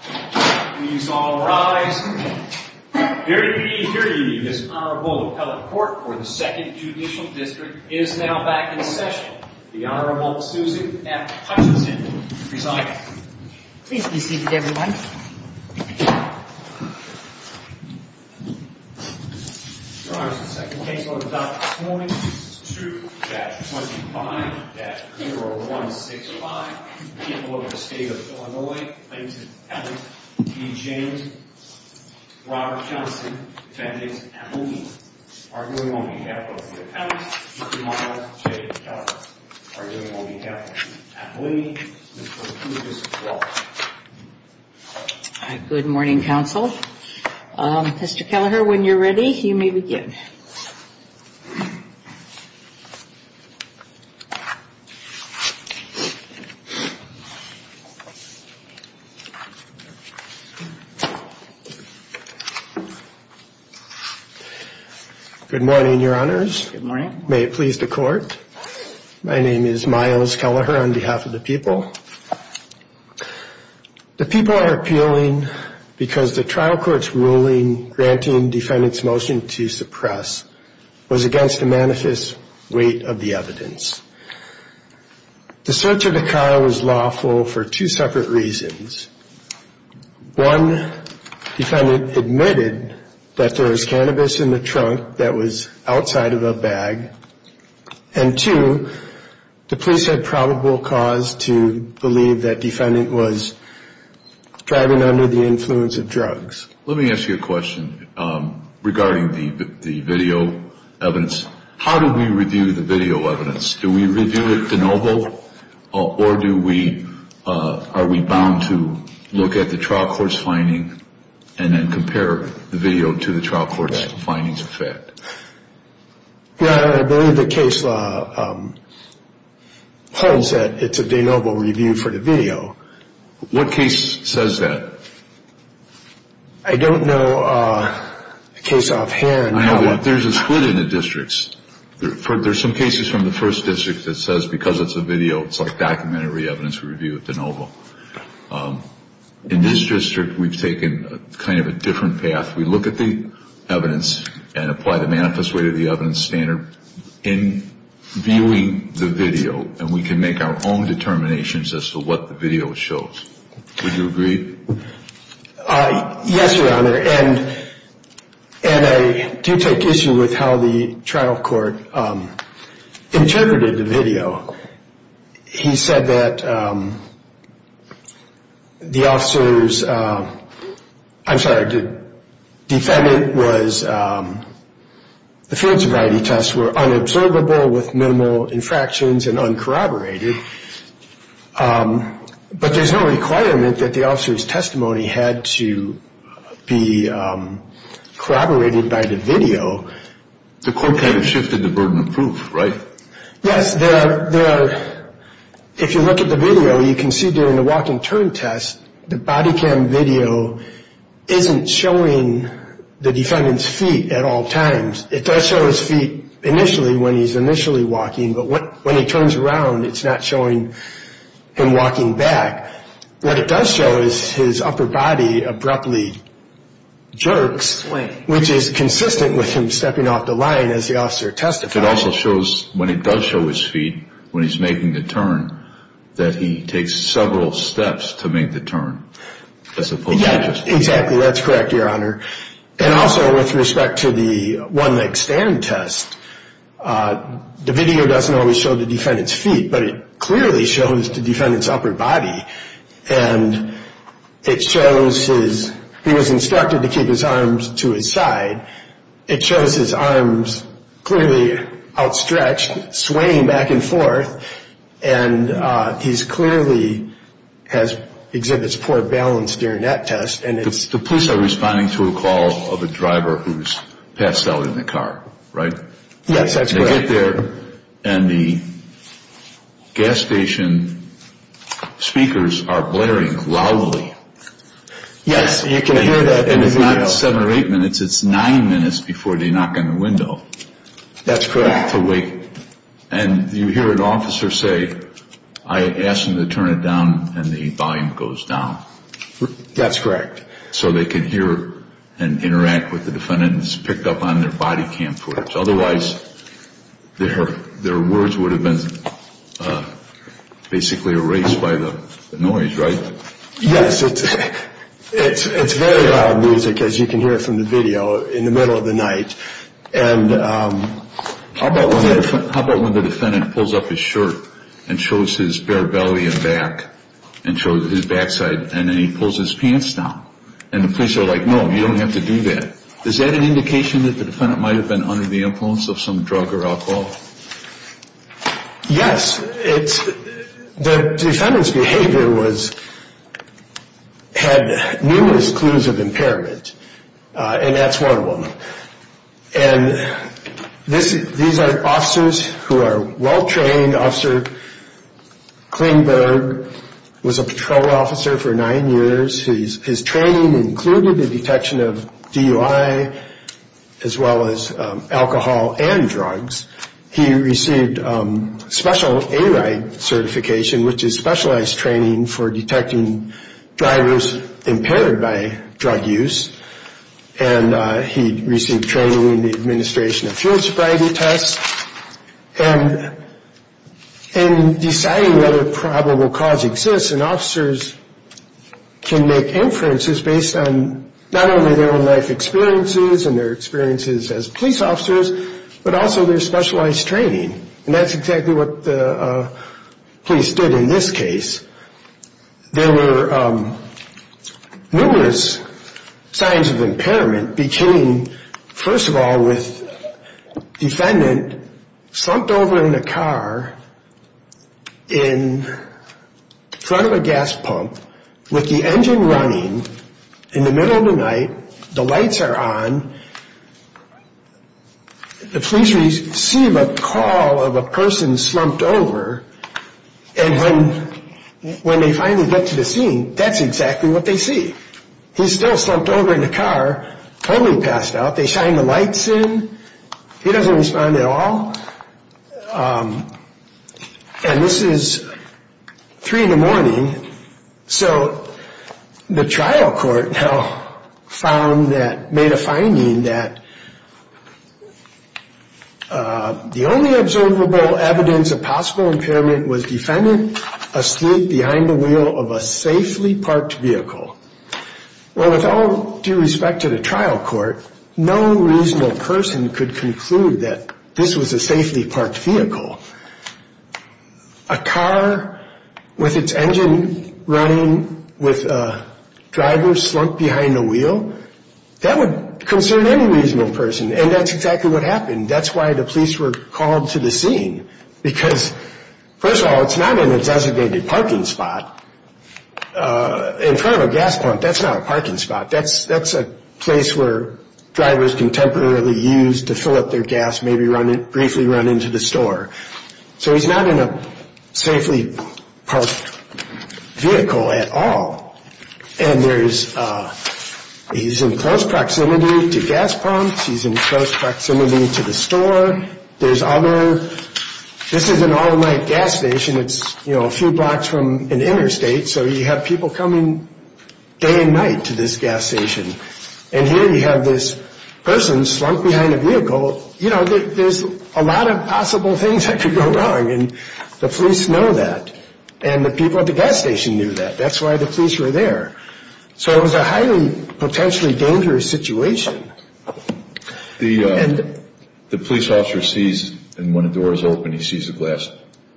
Please all rise. The Honorable Appellate Court for the 2nd Judicial District is now back in session. The Honorable Susan F. Hutchinson presiding. Please be seated, everyone. Your Honor, the second case on the docket this morning is 2-25-0165. People of the State of Illinois, Plainton Appellate, Dean James, Robert Johnson, Benjamin Appellini, arguing on behalf of the Appellates, Mr. Michael J. Keller, arguing on behalf of Mr. Appellini, Mr. Lucas Clark. Good morning, Counsel. Mr. Kelleher, when you're ready, you may begin. Good morning, Your Honors. May it please the Court. My name is Myles Kelleher on behalf of the people. The people are appealing because the trial court's ruling granting defendants' motion to suppress was against the manifest weight of the evidence. The search of the car was lawful for two separate reasons. One, defendant admitted that there was cannabis in the trunk that was outside of a bag. And two, the police had probable cause to believe that defendant was driving under the influence of drugs. Let me ask you a question regarding the video evidence. How do we review the video evidence? Do we review it de novo, or are we bound to look at the trial court's finding and then compare the video to the trial court's findings of fact? I believe the case holds that it's a de novo review for the video. What case says that? I don't know a case offhand. There's a split in the districts. There's some cases from the first district that says because it's a video, it's like documentary evidence review de novo. In this district, we've taken kind of a different path. We look at the evidence and apply the manifest weight of the evidence standard in viewing the video, and we can make our own determinations as to what the video shows. Would you agree? Yes, Your Honor. And I do take issue with how the trial court interpreted the video. He said that the officer's, I'm sorry, the defendant was, the field sobriety tests were unobservable with minimal infractions and uncorroborated, but there's no requirement that the officer's testimony had to be corroborated by the video. The court kind of shifted the burden of proof, right? Yes. If you look at the video, you can see during the walk and turn test, the body cam video isn't showing the defendant's feet at all times. It does show his feet initially when he's initially walking, but when he turns around, it's not showing him walking back. What it does show is his upper body abruptly jerks, which is consistent with him stepping off the line as the officer testified. It also shows when he does show his feet when he's making the turn, that he takes several steps to make the turn as opposed to just walking. Yes, exactly. That's correct, Your Honor. And also with respect to the one-leg stand test, the video doesn't always show the defendant's feet, but it clearly shows the defendant's upper body, and it shows his, he was instructed to keep his arms to his side. It shows his arms clearly outstretched, swaying back and forth, and he clearly exhibits poor balance during that test. The police are responding to a call of a driver who's passed out in the car, right? Yes, that's correct. They get there, and the gas station speakers are blaring loudly. Yes, you can hear that in the video. And it's not seven or eight minutes. It's nine minutes before they knock on the window. That's correct. And you hear an officer say, I asked them to turn it down, and the volume goes down. That's correct. So they can hear and interact with the defendants picked up on their body cam footage. Otherwise, their words would have been basically erased by the noise, right? Yes. It's very loud music, as you can hear from the video, in the middle of the night. And how about when the defendant pulls up his shirt and shows his bare belly and back and shows his backside, and then he pulls his pants down. And the police are like, no, you don't have to do that. Is that an indication that the defendant might have been under the influence of some drug or alcohol? Yes. The defendant's behavior had numerous clues of impairment, and that's one of them. And these are officers who are well-trained. Officer Klingberg was a patrol officer for nine years. His training included the detection of DUI as well as alcohol and drugs. He received special A-Ride certification, which is specialized training for detecting drivers impaired by drug use. And he received training in the administration of field sobriety tests. And in deciding whether probable cause exists, an officer can make inferences based on not only their own life experiences and their experiences as police officers, but also their specialized training. And that's exactly what the police did in this case. There were numerous signs of impairment beginning, first of all, with the defendant slumped over in a car in front of a gas pump with the engine running in the middle of the night. The lights are on. The police receive a call of a person slumped over. And when they finally get to the scene, that's exactly what they see. He's still slumped over in the car, totally passed out. They shine the lights in. He doesn't respond at all. And this is 3 in the morning. So the trial court now found that, made a finding that the only observable evidence of possible impairment was defendant asleep behind the wheel of a safely parked vehicle. Well, with all due respect to the trial court, no reasonable person could conclude that this was a safely parked vehicle. A car with its engine running with a driver slumped behind the wheel, that would concern any reasonable person. And that's exactly what happened. That's why the police were called to the scene. Because, first of all, it's not in a designated parking spot. In front of a gas pump, that's not a parking spot. That's a place where drivers can temporarily use to fill up their gas, maybe briefly run into the store. So he's not in a safely parked vehicle at all. And there's, he's in close proximity to gas pumps. He's in close proximity to the store. There's other, this is an all-night gas station. It's, you know, a few blocks from an interstate. So you have people coming day and night to this gas station. And here you have this person slumped behind a vehicle. You know, there's a lot of possible things that could go wrong. And the police know that. And the people at the gas station knew that. That's why the police were there. So it was a highly potentially dangerous situation. The police officer sees, and when a door is open, he sees a glass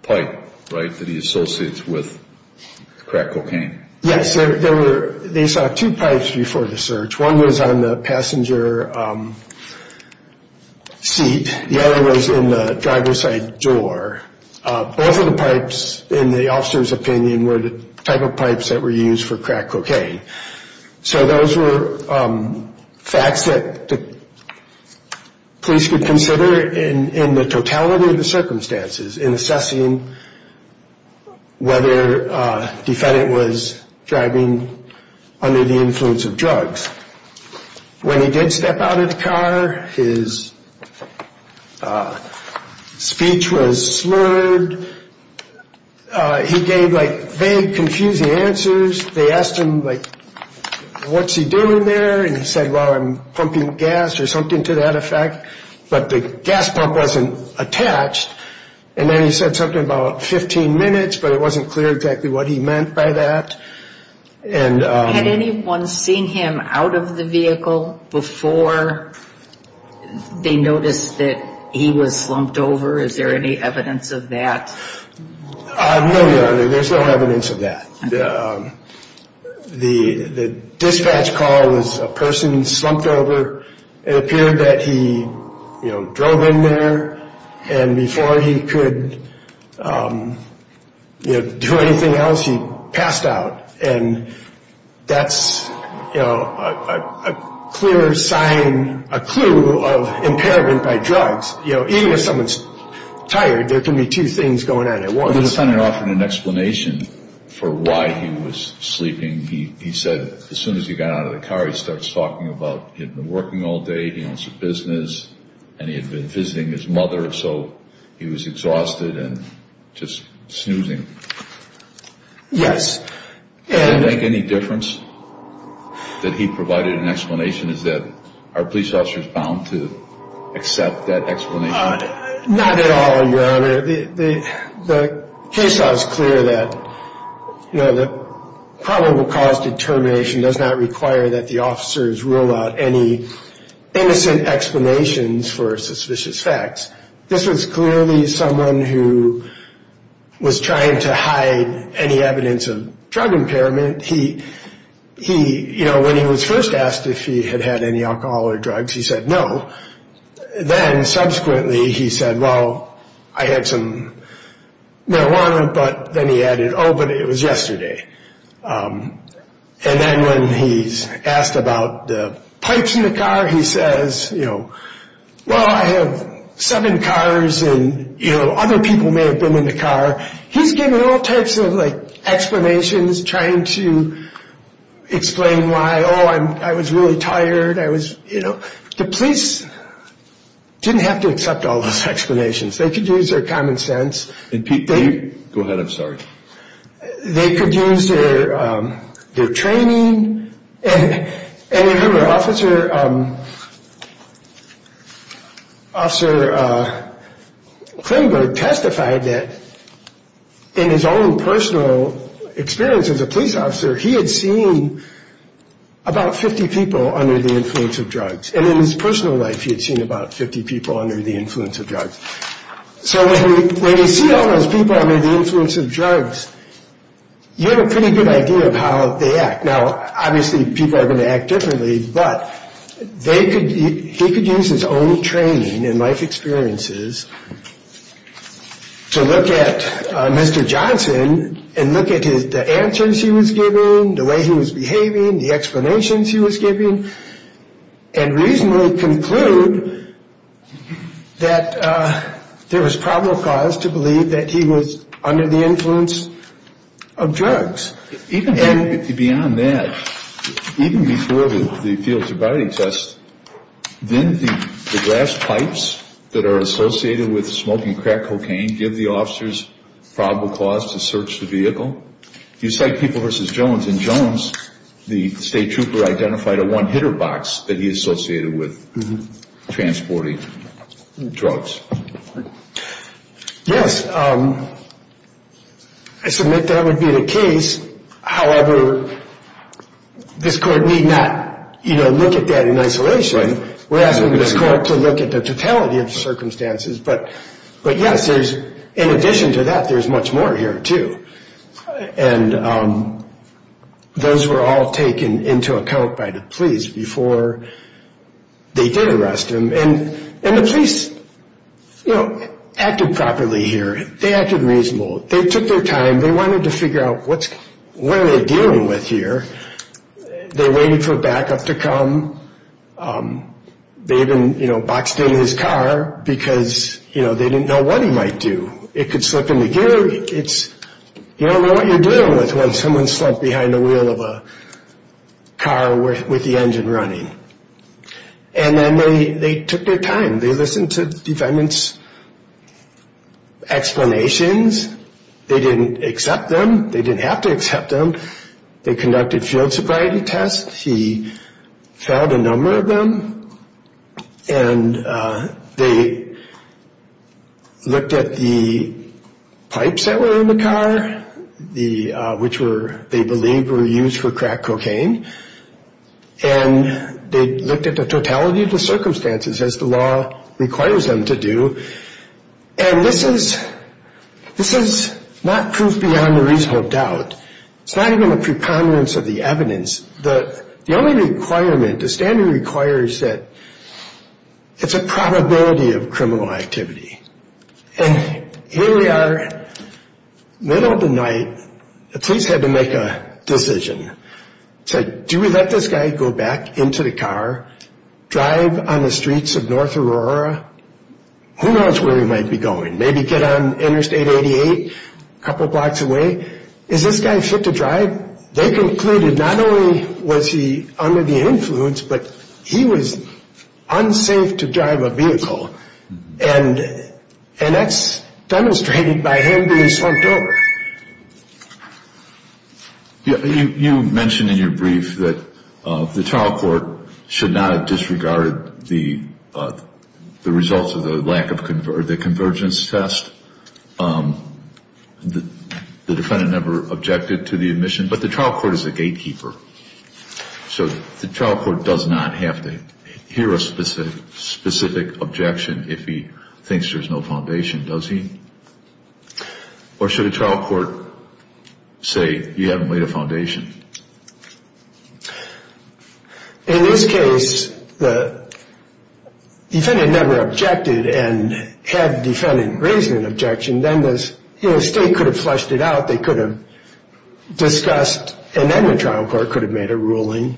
pipe, right, that he associates with crack cocaine. Yes, there were, they saw two pipes before the search. One was on the passenger seat. The other was in the driver's side door. Both of the pipes, in the officer's opinion, were the type of pipes that were used for crack cocaine. So those were facts that the police could consider in the totality of the circumstances in assessing whether a defendant was driving under the influence of drugs. When he did step out of the car, his speech was slurred. He gave, like, vague, confusing answers. They asked him, like, what's he doing there? And he said, well, I'm pumping gas or something to that effect. But the gas pump wasn't attached. And then he said something about 15 minutes, but it wasn't clear exactly what he meant by that. Had anyone seen him out of the vehicle before they noticed that he was slumped over? Is there any evidence of that? No, Your Honor, there's no evidence of that. The dispatch call was a person slumped over. It appeared that he, you know, drove in there. And before he could, you know, do anything else, he passed out. And that's, you know, a clear sign, a clue of impairment by drugs. You know, even if someone's tired, there can be two things going on at once. The defendant offered an explanation for why he was sleeping. He said as soon as he got out of the car, he starts talking about he had been working all day, he owns a business, and he had been visiting his mother. So he was exhausted and just snoozing. Yes. Do you think any difference that he provided an explanation is that are police officers bound to accept that explanation? Not at all, Your Honor. The case law is clear that, you know, the probable cause determination does not require that the officers rule out any innocent explanations for suspicious facts. This was clearly someone who was trying to hide any evidence of drug impairment. He, you know, when he was first asked if he had had any alcohol or drugs, he said no. Then subsequently he said, well, I had some marijuana, but then he added, oh, but it was yesterday. And then when he's asked about the pipes in the car, he says, you know, well, I have seven cars and, you know, other people may have been in the car. He's given all types of, like, explanations trying to explain why, oh, I was really tired, I was, you know. The police didn't have to accept all those explanations. They could use their common sense. Go ahead, I'm sorry. They could use their training. And remember, Officer Klinberg testified that in his own personal experience as a police officer, he had seen about 50 people under the influence of drugs. And in his personal life, he had seen about 50 people under the influence of drugs. So when you see all those people under the influence of drugs, you have a pretty good idea of how they act. Now, obviously, people are going to act differently, but they could use his own training and life experiences to look at Mr. Johnson and look at the answers he was giving, the way he was behaving, the explanations he was giving, and reasonably conclude that there was probable cause to believe that he was under the influence of drugs. Even beyond that, even before the field sobriety test, didn't the glass pipes that are associated with smoking crack cocaine give the officers probable cause to search the vehicle? You cite People v. Jones, and Jones, the state trooper, identified a one-hitter box that he associated with transporting drugs. Yes, I submit that would be the case. However, this court need not look at that in isolation. We're asking this court to look at the totality of the circumstances. But yes, in addition to that, there's much more here, too. And those were all taken into account by the police before they did arrest him. And the police acted properly here. They acted reasonable. They took their time. They wanted to figure out what are they dealing with here. They waited for backup to come. They even boxed in his car because they didn't know what he might do. It could slip in the gear. You don't know what you're dealing with when someone's slumped behind the wheel of a car with the engine running. And then they took their time. They listened to the defendant's explanations. They didn't accept them. They didn't have to accept them. They conducted field sobriety tests. He failed a number of them. And they looked at the pipes that were in the car, which they believed were used for crack cocaine. And they looked at the totality of the circumstances as the law requires them to do. And this is not proof beyond a reasonable doubt. It's not even a preponderance of the evidence. The only requirement, the standard requires that it's a probability of criminal activity. And here we are, middle of the night. The police had to make a decision. They said, do we let this guy go back into the car, drive on the streets of North Aurora? Who knows where he might be going? Maybe get on Interstate 88 a couple blocks away. Is this guy fit to drive? They concluded not only was he under the influence, but he was unsafe to drive a vehicle. And that's demonstrated by him being slumped over. You mentioned in your brief that the trial court should not have disregarded the results of the lack of convergence test. The defendant never objected to the admission. But the trial court is a gatekeeper. So the trial court does not have to hear a specific objection if he thinks there's no foundation, does he? Or should a trial court say, you haven't laid a foundation? In this case, the defendant never objected and had the defendant raise an objection. Then the state could have flushed it out. They could have discussed and then the trial court could have made a ruling.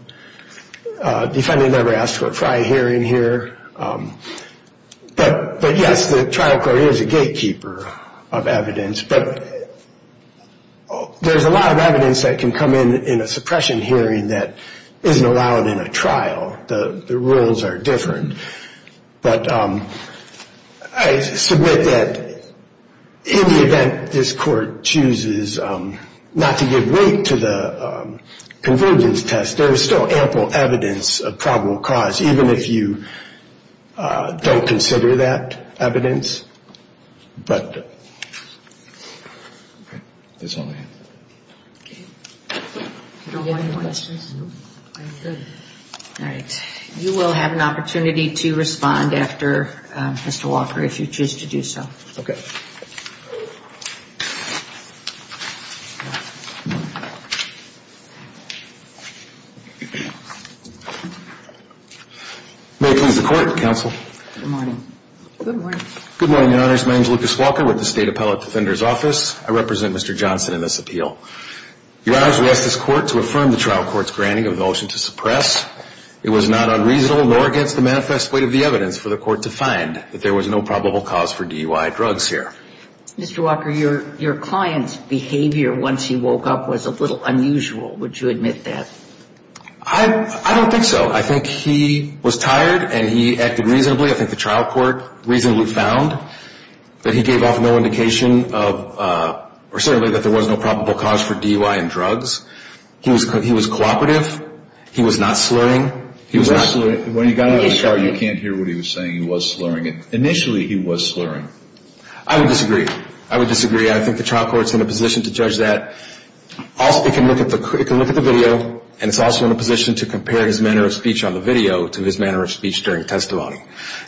Defendant never asked for a prior hearing here. But, yes, the trial court is a gatekeeper of evidence. But there's a lot of evidence that can come in in a suppression hearing that isn't allowed in a trial. The rules are different. But I submit that in the event this court chooses not to give weight to the convergence test, there is still ample evidence of probable cause, even if you don't consider that evidence. All right. You will have an opportunity to respond after, Mr. Walker, if you choose to do so. May it please the Court, Counsel. Good morning. Good morning. Good morning. Good morning, Your Honors. My name is Lucas Walker with the State Appellate Defender's Office. I represent Mr. Johnson in this appeal. Your Honors, we ask this Court to affirm the trial court's granting of the motion to suppress. It was not unreasonable nor against the manifest weight of the evidence for the Court to find that there was no probable cause for DUI drugs here. Mr. Walker, your client's behavior once he woke up was a little unusual. Would you admit that? I don't think so. I think he was tired and he acted reasonably. I think the trial court reasonably found that he gave off no indication of or certainly that there was no probable cause for DUI and drugs. He was cooperative. He was not slurring. He was not slurring. When he got out of the car, you can't hear what he was saying. He was slurring. Initially, he was slurring. I would disagree. I would disagree. I think the trial court's in a position to judge that. It can look at the video, and it's also in a position to compare his manner of speech on the video to his manner of speech during testimony.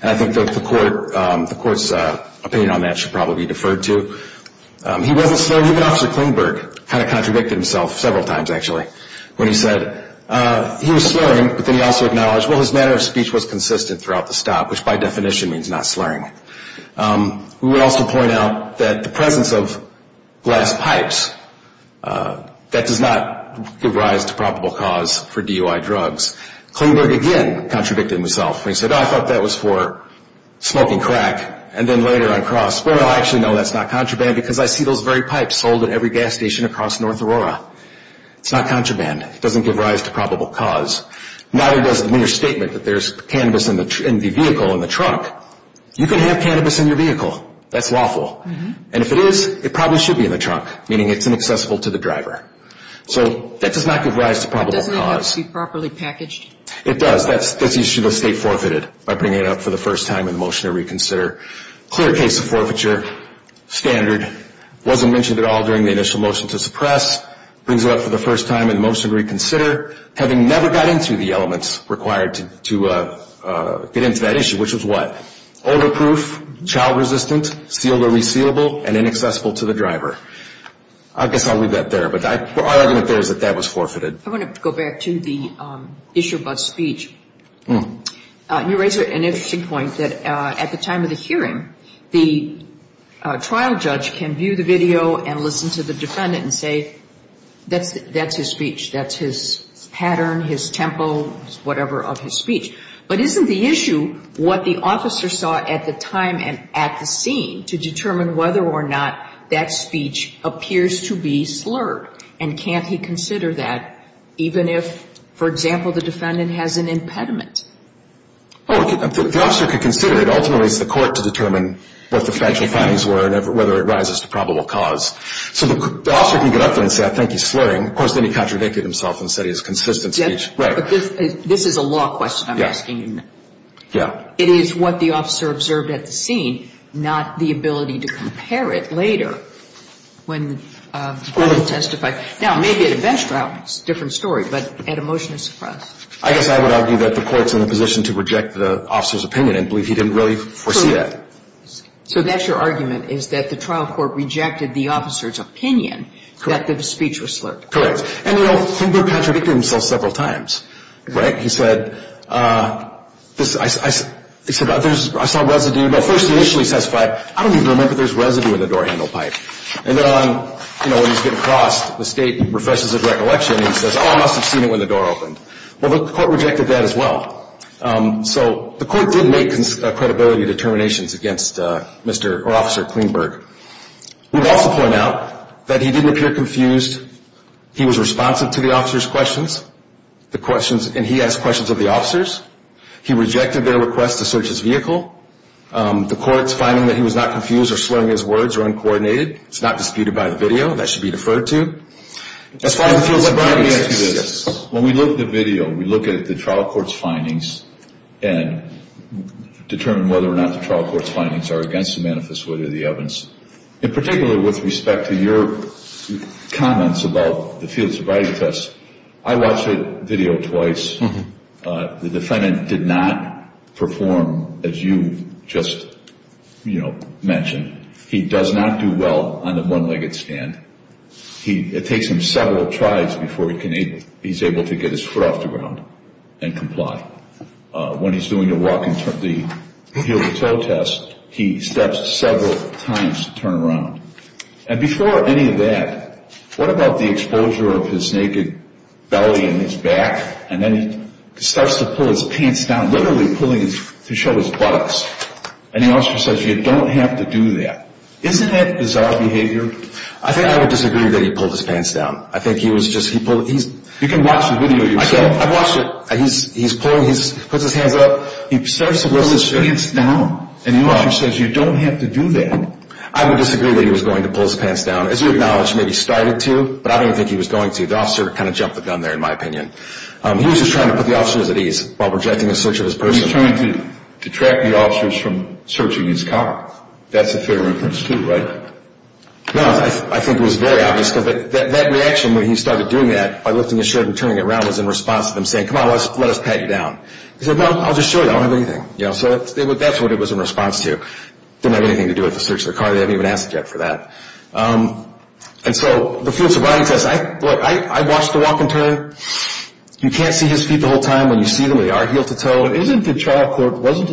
I think the Court's opinion on that should probably be deferred to. He wasn't slurring. Even Officer Klingberg kind of contradicted himself several times, actually, when he said he was slurring, but then he also acknowledged, well, his manner of speech was consistent throughout the stop, which by definition means not slurring. We would also point out that the presence of glass pipes, that does not give rise to probable cause for DUI drugs. Klingberg, again, contradicted himself. He said, oh, I thought that was for smoking crack, and then later on cross. Well, I actually know that's not contraband because I see those very pipes sold at every gas station across North Aurora. It's not contraband. It doesn't give rise to probable cause. Neither does the mere statement that there's cannabis in the vehicle, in the trunk. You can have cannabis in your vehicle. That's lawful. And if it is, it probably should be in the trunk, meaning it's inaccessible to the driver. So that does not give rise to probable cause. Doesn't it have to be properly packaged? It does. This issue was state forfeited by bringing it up for the first time in the motion to reconsider. Clear case of forfeiture. Wasn't mentioned at all during the initial motion to suppress. Brings it up for the first time in the motion to reconsider, having never got into the elements required to get into that issue, which was what? Odor-proof, child-resistant, sealed or resealable, and inaccessible to the driver. I guess I'll leave that there, but our argument there is that that was forfeited. I want to go back to the issue about speech. You raise an interesting point that at the time of the hearing, the trial judge can view the video and listen to the defendant and say that's his speech, that's his pattern, his tempo, whatever of his speech. But isn't the issue what the officer saw at the time and at the scene to determine whether or not that speech appears to be slurred? And can't he consider that even if, for example, the defendant has an impediment? Well, the officer could consider it. Ultimately, it's the court to determine what the factual findings were and whether it rises to probable cause. So the officer can get up there and say, I think he's slurring. Of course, then he contradicted himself and said he has consistent speech. Right. This is a law question I'm asking you now. Yeah. It is what the officer observed at the scene, not the ability to compare it later. When the defendant testified. Now, maybe at a bench trial, it's a different story, but at a motionless trial. I guess I would argue that the court's in a position to reject the officer's opinion and believe he didn't really foresee that. So that's your argument, is that the trial court rejected the officer's opinion that the speech was slurred? Correct. And, you know, he did contradict himself several times. Right? He said, I saw residue. I don't even remember there's residue in the door handle pipe. And then, you know, when he's getting crossed, the state refreshes his recollection. He says, oh, I must have seen it when the door opened. Well, the court rejected that as well. So the court did make credibility determinations against Mr. or Officer Klingberg. We would also point out that he didn't appear confused. He was responsive to the officer's questions, the questions, and he asked questions of the officers. He rejected their request to search his vehicle. The court's finding that he was not confused or slurring his words or uncoordinated. It's not disputed by the video. That should be deferred to. When we look at the video, we look at the trial court's findings and determine whether or not the trial court's findings are against the manifesto or the evidence. In particular, with respect to your comments about the field sobriety test, I watched the video twice. The defendant did not perform as you just, you know, mentioned. He does not do well on the one-legged stand. It takes him several tries before he's able to get his foot off the ground and comply. When he's doing the heel-to-toe test, he steps several times to turn around. And before any of that, what about the exposure of his naked belly and his back and then he starts to pull his pants down, literally pulling to show his buttocks. And the officer says, you don't have to do that. Isn't that bizarre behavior? I think I would disagree that he pulled his pants down. I think he was just, he pulled, he's... You can watch the video yourself. I've watched it. He's pulling, he puts his hands up. He starts to pull his pants down. And the officer says, you don't have to do that. I would disagree that he was going to pull his pants down. As you acknowledge, maybe he started to, but I don't think he was going to. The officer kind of jumped the gun there, in my opinion. He was just trying to put the officers at ease while projecting a search of his person. He was trying to detract the officers from searching his car. That's a fair reference too, right? No, I think it was very obvious. That reaction when he started doing that by lifting his shirt and turning it around was in response to them saying, come on, let us pat you down. He said, no, I'll just show you. I don't have anything. So that's what it was in response to. It didn't have anything to do with the search of the car. They hadn't even asked yet for that. And so the field sobriety test, I watched the walk and turn. You can't see his feet the whole time. When you see them, they are heel to toe. Wasn't the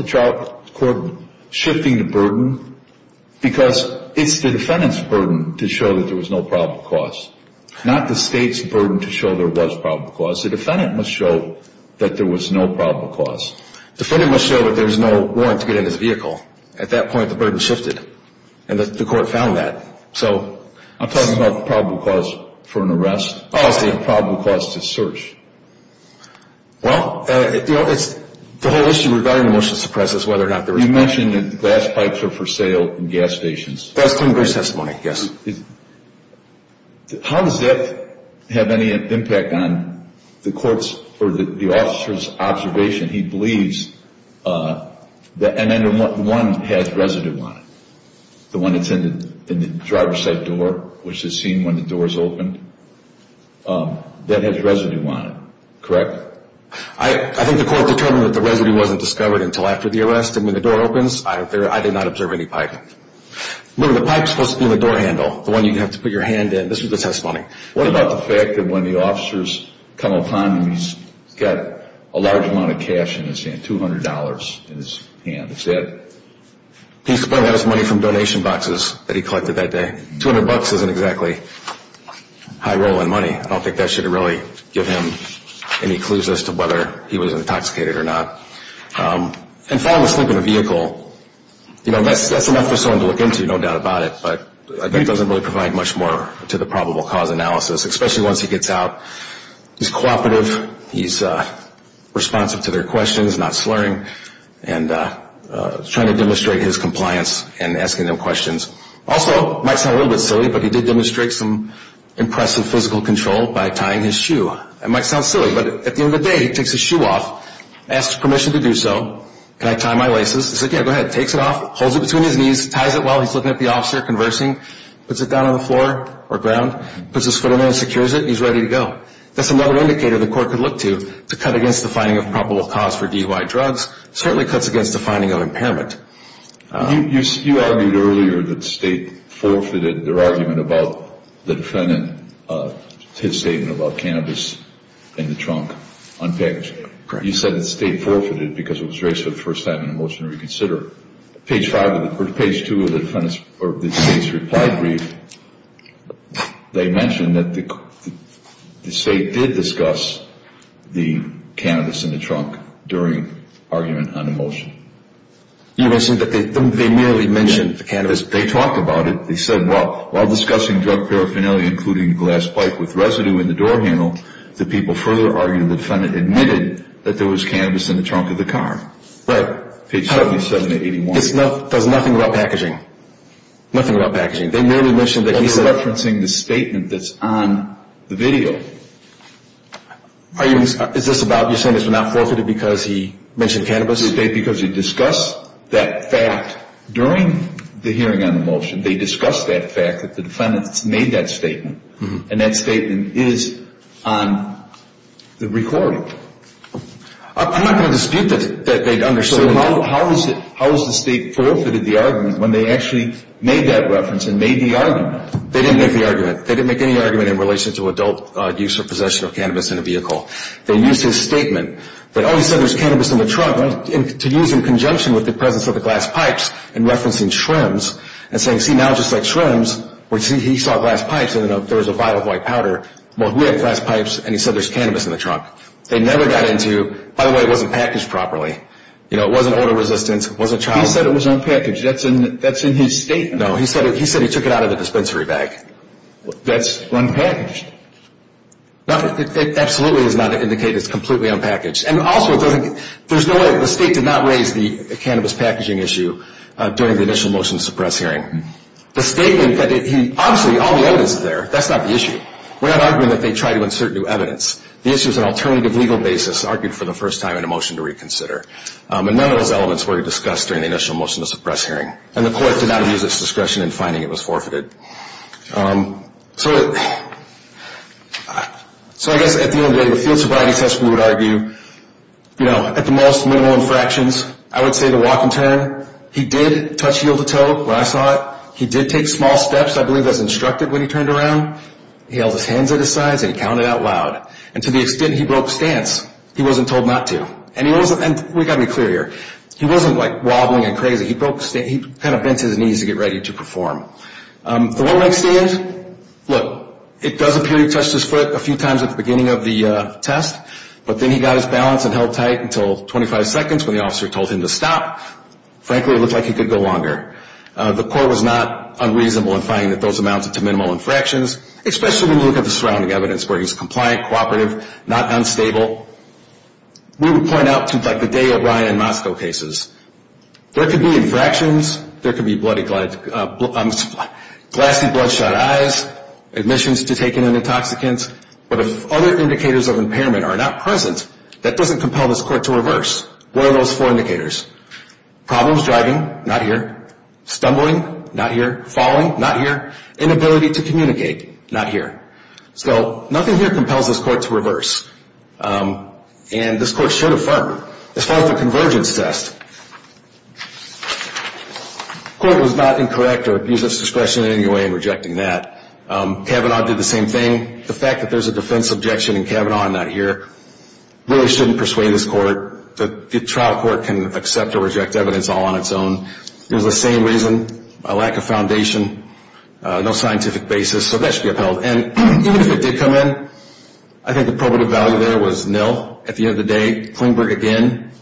trial court shifting the burden? Because it's the defendant's burden to show that there was no probable cause, not the state's burden to show there was probable cause. The defendant must show that there was no probable cause. The defendant must show that there was no warrant to get in his vehicle. At that point, the burden shifted. And the court found that. I'm talking about the probable cause for an arrest. Oh, I see. The probable cause to search. Well, the whole issue regarding the motion to suppress is whether or not there was probable cause. You mentioned that the glass pipes are for sale in gas stations. That's congress' testimony, yes. How does that have any impact on the court's or the officer's observation? He believes that one has residue on it, the one that's in the driver's side door, which is seen when the door is opened. That has residue on it, correct? I think the court determined that the residue wasn't discovered until after the arrest. And when the door opens, I did not observe any pipe. The pipe is supposed to be in the door handle, the one you have to put your hand in. This was the testimony. What about the fact that when the officers come upon him, he's got a large amount of cash in his hand, $200 in his hand. Is that? That's money from donation boxes that he collected that day. $200 isn't exactly high rolling money. I don't think that should really give him any clues as to whether he was intoxicated or not. And falling asleep in a vehicle, that's enough for someone to look into, no doubt about it. But that doesn't really provide much more to the probable cause analysis, especially once he gets out. He's cooperative. He's responsive to their questions, not slurring, and trying to demonstrate his compliance in asking them questions. Also, it might sound a little bit silly, but he did demonstrate some impressive physical control by tying his shoe. It might sound silly, but at the end of the day, he takes his shoe off, asks permission to do so, and I tie my laces. He said, yeah, go ahead. Takes it off, holds it between his knees, ties it well. He's looking at the officer conversing, puts it down on the floor or ground, puts his foot in there and secures it, and he's ready to go. That's another indicator the court could look to to cut against the finding of probable cause for DUI drugs. It certainly cuts against the finding of impairment. You argued earlier that State forfeited their argument about the defendant, his statement about cannabis in the trunk, unpackaged. Correct. You said that State forfeited because it was raised for the first time in a motion to reconsider. Page 2 of the defendant's or the State's reply brief, they mentioned that the State did discuss the cannabis in the trunk during argument on a motion. You're saying that they merely mentioned the cannabis? They talked about it. They said, well, while discussing drug paraphernalia, including glass pipe with residue in the door handle, the people further argued the defendant admitted that there was cannabis in the trunk of the car. Right. Page 77 to 81. It does nothing about packaging. Nothing about packaging. They merely mentioned that he said. And you're referencing the statement that's on the video. Are you saying this was not forfeited because he mentioned cannabis? Because he discussed that fact during the hearing on the motion. They discussed that fact that the defendants made that statement, and that statement is on the recording. I'm not going to dispute that they understood. So how has the State forfeited the argument when they actually made that reference and made the argument? They didn't make the argument. They didn't make any argument in relation to adult use or possession of cannabis in a vehicle. They used his statement that, oh, he said there's cannabis in the trunk, to use in conjunction with the presence of the glass pipes and referencing shrimps and saying, see, now just like shrimps, where he saw glass pipes and there was a vial of white powder, well, he had glass pipes and he said there's cannabis in the trunk. They never got into, by the way, it wasn't packaged properly. You know, it wasn't odor-resistant, it wasn't child- He said it was unpackaged. That's in his statement. No, he said he took it out of the dispensary bag. That's unpackaged. No, it absolutely does not indicate it's completely unpackaged. And also, there's no way. The State did not raise the cannabis packaging issue during the initial motion to suppress hearing. The statement that he, obviously, all the evidence is there. That's not the issue. We're not arguing that they tried to insert new evidence. The issue is an alternative legal basis argued for the first time in a motion to reconsider. And none of those elements were discussed during the initial motion to suppress hearing. And the court did not use its discretion in finding it was forfeited. So I guess at the end of the day, the field sobriety test, we would argue, you know, at the most minimal infractions, I would say the walk and turn. He did touch heel to toe when I saw it. He did take small steps, I believe, as instructed when he turned around. He held his hands at his sides and he counted out loud. And to the extent he broke stance, he wasn't told not to. And we've got to be clear here. He wasn't, like, wobbling and crazy. He kind of bent his knees to get ready to perform. The one leg stand, look, it does appear he touched his foot a few times at the beginning of the test. But then he got his balance and held tight until 25 seconds when the officer told him to stop. Frankly, it looked like he could go longer. The court was not unreasonable in finding that those amounted to minimal infractions, especially when you look at the surrounding evidence where he's compliant, cooperative, not unstable. We would point out to, like, the day of Ryan in Moscow cases, there could be infractions, there could be glassy bloodshot eyes, admissions to take in an intoxicant. But if other indicators of impairment are not present, that doesn't compel this court to reverse. What are those four indicators? Problems driving, not here. Stumbling, not here. Falling, not here. Inability to communicate, not here. So nothing here compels this court to reverse. And this court should affirm. As far as the convergence test, the court was not incorrect or abused its discretion in any way in rejecting that. Kavanaugh did the same thing. The fact that there's a defense objection in Kavanaugh and not here really shouldn't persuade this court. The trial court can accept or reject evidence all on its own. It was the same reason, a lack of foundation, no scientific basis. So that should be upheld. And even if it did come in, I think the probative value there was nil at the end of the day. Klingberg, again,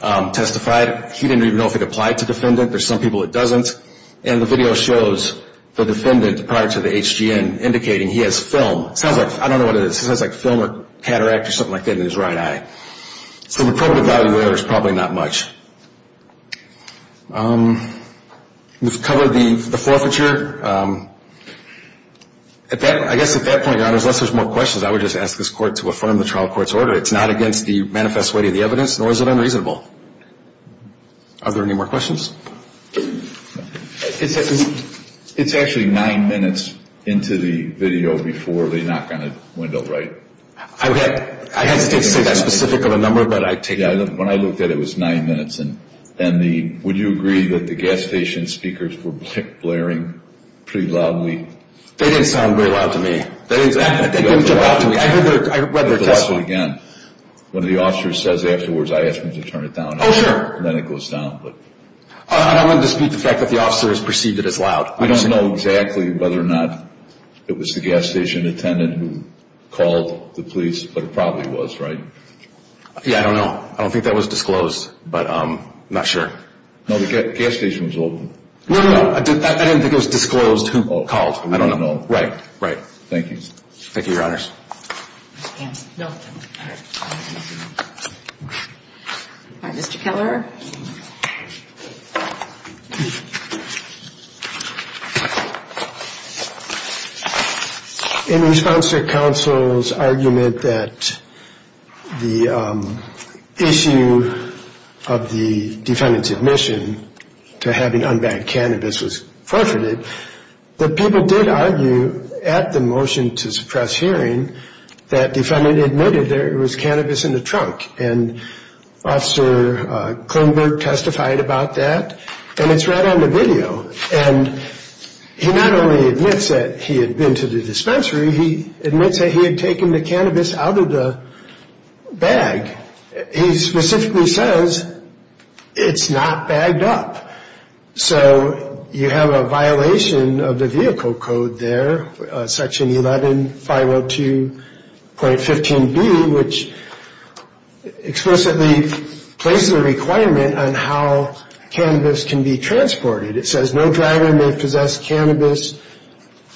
testified. He didn't even know if it applied to defendant. There's some people it doesn't. And the video shows the defendant prior to the HGN indicating he has film. I don't know what it is. It sounds like film or cataract or something like that in his right eye. So the probative value there is probably not much. We've covered the forfeiture. I guess at that point, Your Honors, unless there's more questions, I would just ask this court to affirm the trial court's order. It's not against the manifest weight of the evidence, nor is it unreasonable. Are there any more questions? It's actually nine minutes into the video before the knock on the window, right? I hesitate to say that specific of a number, but I take it. When I looked at it, it was nine minutes. And would you agree that the gas station speakers were blaring pretty loudly? They didn't sound very loud to me. They didn't jump out to me. I read their testimony. When the officer says afterwards, I ask them to turn it down. Oh, sure. And then it goes down. I don't want to dispute the fact that the officer has perceived it as loud. I don't know exactly whether or not it was the gas station attendant who called the police, but it probably was, right? Yeah, I don't know. I don't think that was disclosed, but I'm not sure. No, the gas station was open. No, no, no. I didn't think it was disclosed who called. I don't know. Right, right. Thank you. Thank you, Your Honors. Mr. Keller? In response to counsel's argument that the issue of the defendant's admission to having unbanked cannabis was forfeited, the people did argue at the motion to suppress hearing that defendant admitted there was cannabis in the trunk, and Officer Kloonberg testified about that, and it's right on the video. And he not only admits that he had been to the dispensary, he admits that he had taken the cannabis out of the bag. He specifically says it's not bagged up. So you have a violation of the vehicle code there, Section 11502.15B, which explicitly places a requirement on how cannabis can be transported. It says no driver may possess cannabis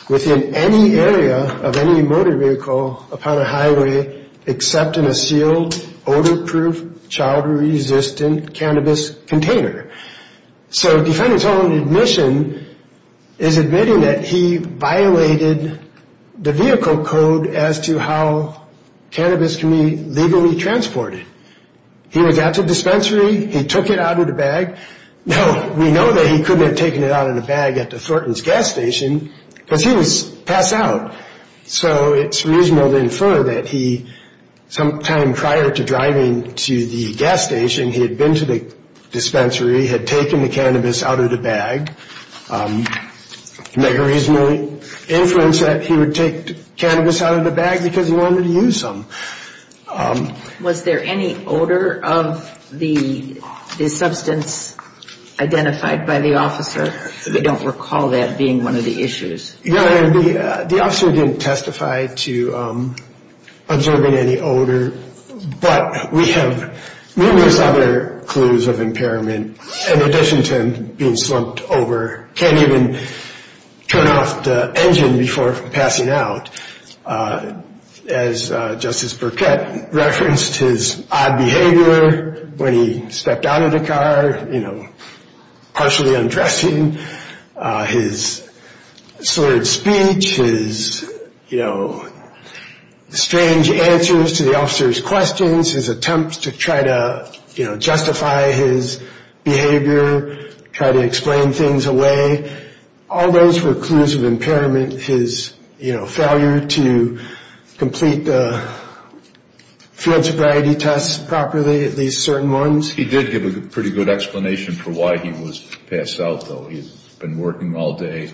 within any area of any motor vehicle upon a highway except in a sealed, odor-proof, child-resistant cannabis container. So defendant's own admission is admitting that he violated the vehicle code as to how cannabis can be legally transported. He was at the dispensary. He took it out of the bag. Now, we know that he couldn't have taken it out of the bag at the Thornton's gas station because he was passed out. So it's reasonable to infer that he, sometime prior to driving to the gas station, he had been to the dispensary, had taken the cannabis out of the bag. Make a reasonable inference that he would take cannabis out of the bag because he wanted to use some. Was there any odor of the substance identified by the officer? I don't recall that being one of the issues. Your Honor, the officer didn't testify to observing any odor, but we have numerous other clues of impairment in addition to him being slumped over, can't even turn off the engine before passing out. As Justice Burkett referenced, his odd behavior when he stepped out of the car, you know, partially undressing. His slurred speech, his, you know, strange answers to the officer's questions, his attempts to try to, you know, justify his behavior, try to explain things away. All those were clues of impairment. His, you know, failure to complete the field sobriety tests properly, at least certain ones. He did give a pretty good explanation for why he was passed out, though. He had been working all day.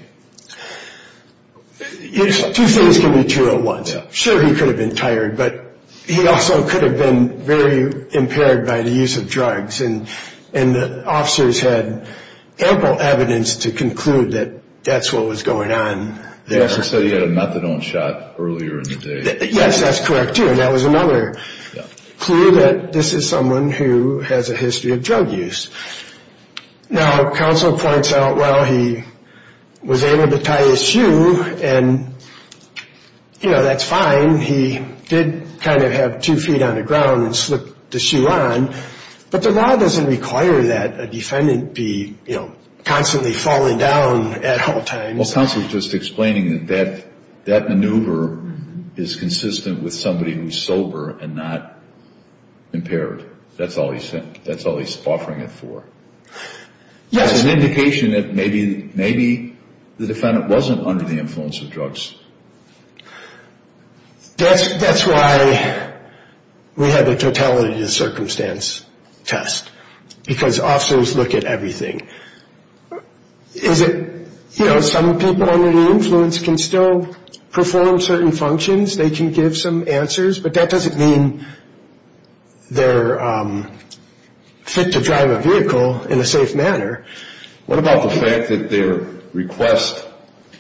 Two things can be true at once. Sure, he could have been tired, but he also could have been very impaired by the use of drugs, and the officers had ample evidence to conclude that that's what was going on there. He also said he had a methadone shot earlier in the day. Yes, that's correct, too. And that was another clue that this is someone who has a history of drug use. Now, counsel points out, well, he was able to tie his shoe, and, you know, that's fine. He did kind of have two feet on the ground and slip the shoe on, but the law doesn't require that a defendant be, you know, constantly falling down at all times. Well, counsel is just explaining that that maneuver is consistent with somebody who's sober and not impaired. That's all he's offering it for. That's an indication that maybe the defendant wasn't under the influence of drugs. That's why we have a totality of circumstance test, because officers look at everything. Is it, you know, some people under the influence can still perform certain functions, they can give some answers, but that doesn't mean they're fit to drive a vehicle in a safe manner. What about the fact that their request,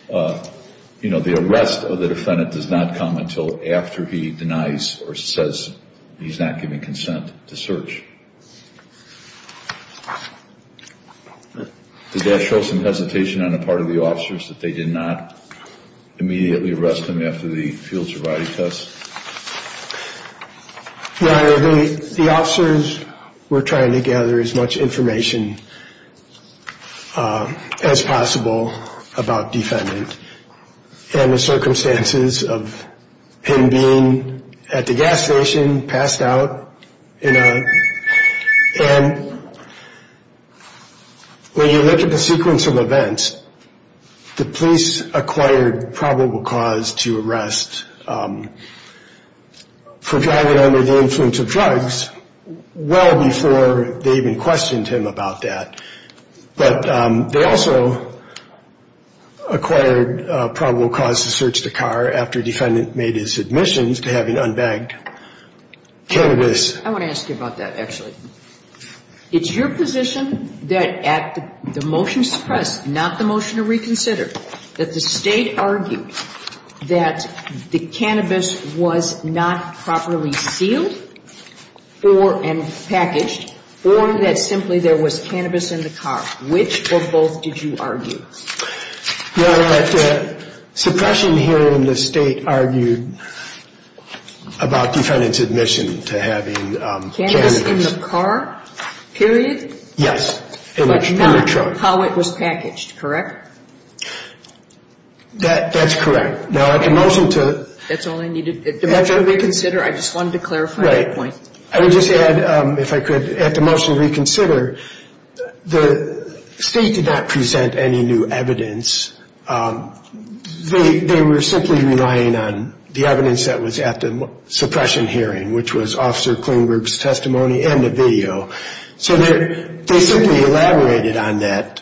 you know, the arrest of the defendant does not come until after he denies or says he's not giving consent to search? Did that show some hesitation on the part of the officers, that they did not immediately arrest him after the field sobriety test? Your Honor, the officers were trying to gather as much information as possible about defendant and the circumstances of him being at the gas station, passed out. And when you look at the sequence of events, the police acquired probable cause to arrest for driving under the influence of drugs well before they even questioned him about that. But they also acquired probable cause to search the car after defendant made his admissions to having unbagged cannabis. I want to ask you about that, actually. It's your position that at the motion to suppress, not the motion to reconsider, that the State argued that the cannabis was not properly sealed and packaged, or that simply there was cannabis in the car. Which or both did you argue? Your Honor, suppression here in the State argued about defendant's admission to having cannabis. Cannabis in the car, period? Yes. But not how it was packaged, correct? That's correct. Now at the motion to... That's all I needed. At the motion to reconsider, I just wanted to clarify that point. Right. I would just add, if I could, at the motion to reconsider, the State did not present any new evidence. They were simply relying on the evidence that was at the suppression hearing, which was Officer Klingberg's testimony and the video. So they simply elaborated on that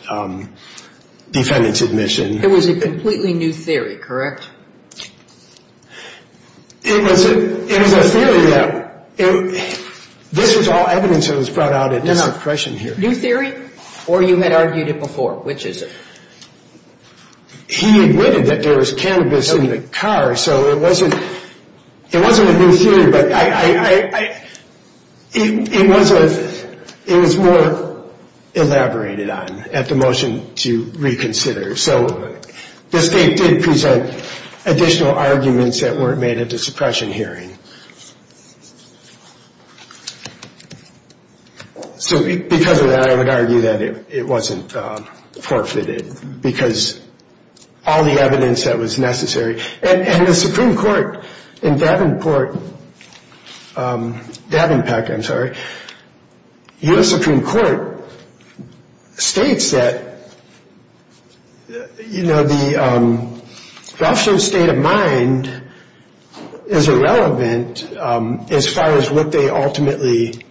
defendant's admission. It was a completely new theory, correct? It was a theory that this was all evidence that was brought out at this suppression hearing. New theory? Or you had argued it before? Which is it? He admitted that there was cannabis in the car, so it wasn't a new theory, but it was more elaborated on at the motion to reconsider. So the State did present additional arguments that weren't made at the suppression hearing. So because of that, I would argue that it wasn't forfeited because all the evidence that was necessary. And the Supreme Court in Davenport, Davenport, I'm sorry, U.S. Supreme Court states that the officer's state of mind is irrelevant as far as what they ultimately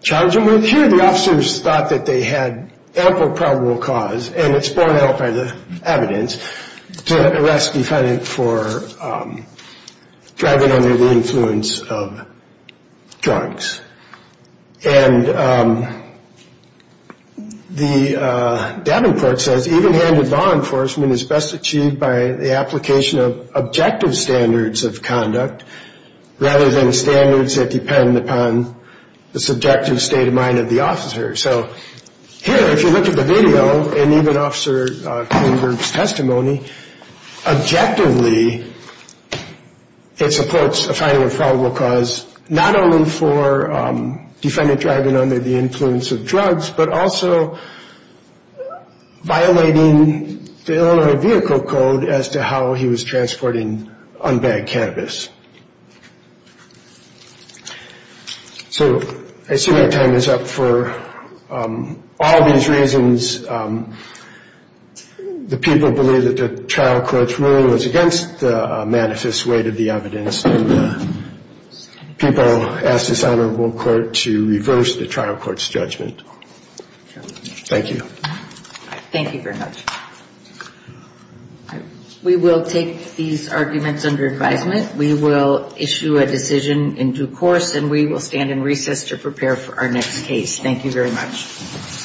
charged him with. Here, the officers thought that they had ample probable cause, and it's borne out by the evidence, to arrest the defendant for driving under the influence of drugs. And Davenport says, even-handed law enforcement is best achieved by the application of objective standards of conduct rather than standards that depend upon the subjective state of mind of the officer. So here, if you look at the video, and even Officer Klingberg's testimony, objectively, it supports a finding of probable cause not only for defendant driving under the influence of drugs, but also violating the Illinois Vehicle Code as to how he was transporting unbagged cannabis. So I assume our time is up for all these reasons. The people believe that the trial court's ruling was against the manifest weight of the evidence, and people ask this honorable court to reverse the trial court's judgment. Thank you. Thank you very much. We will take these arguments under advisement. We will issue a decision in due course, and we will stand in recess to prepare for our next case. Thank you very much.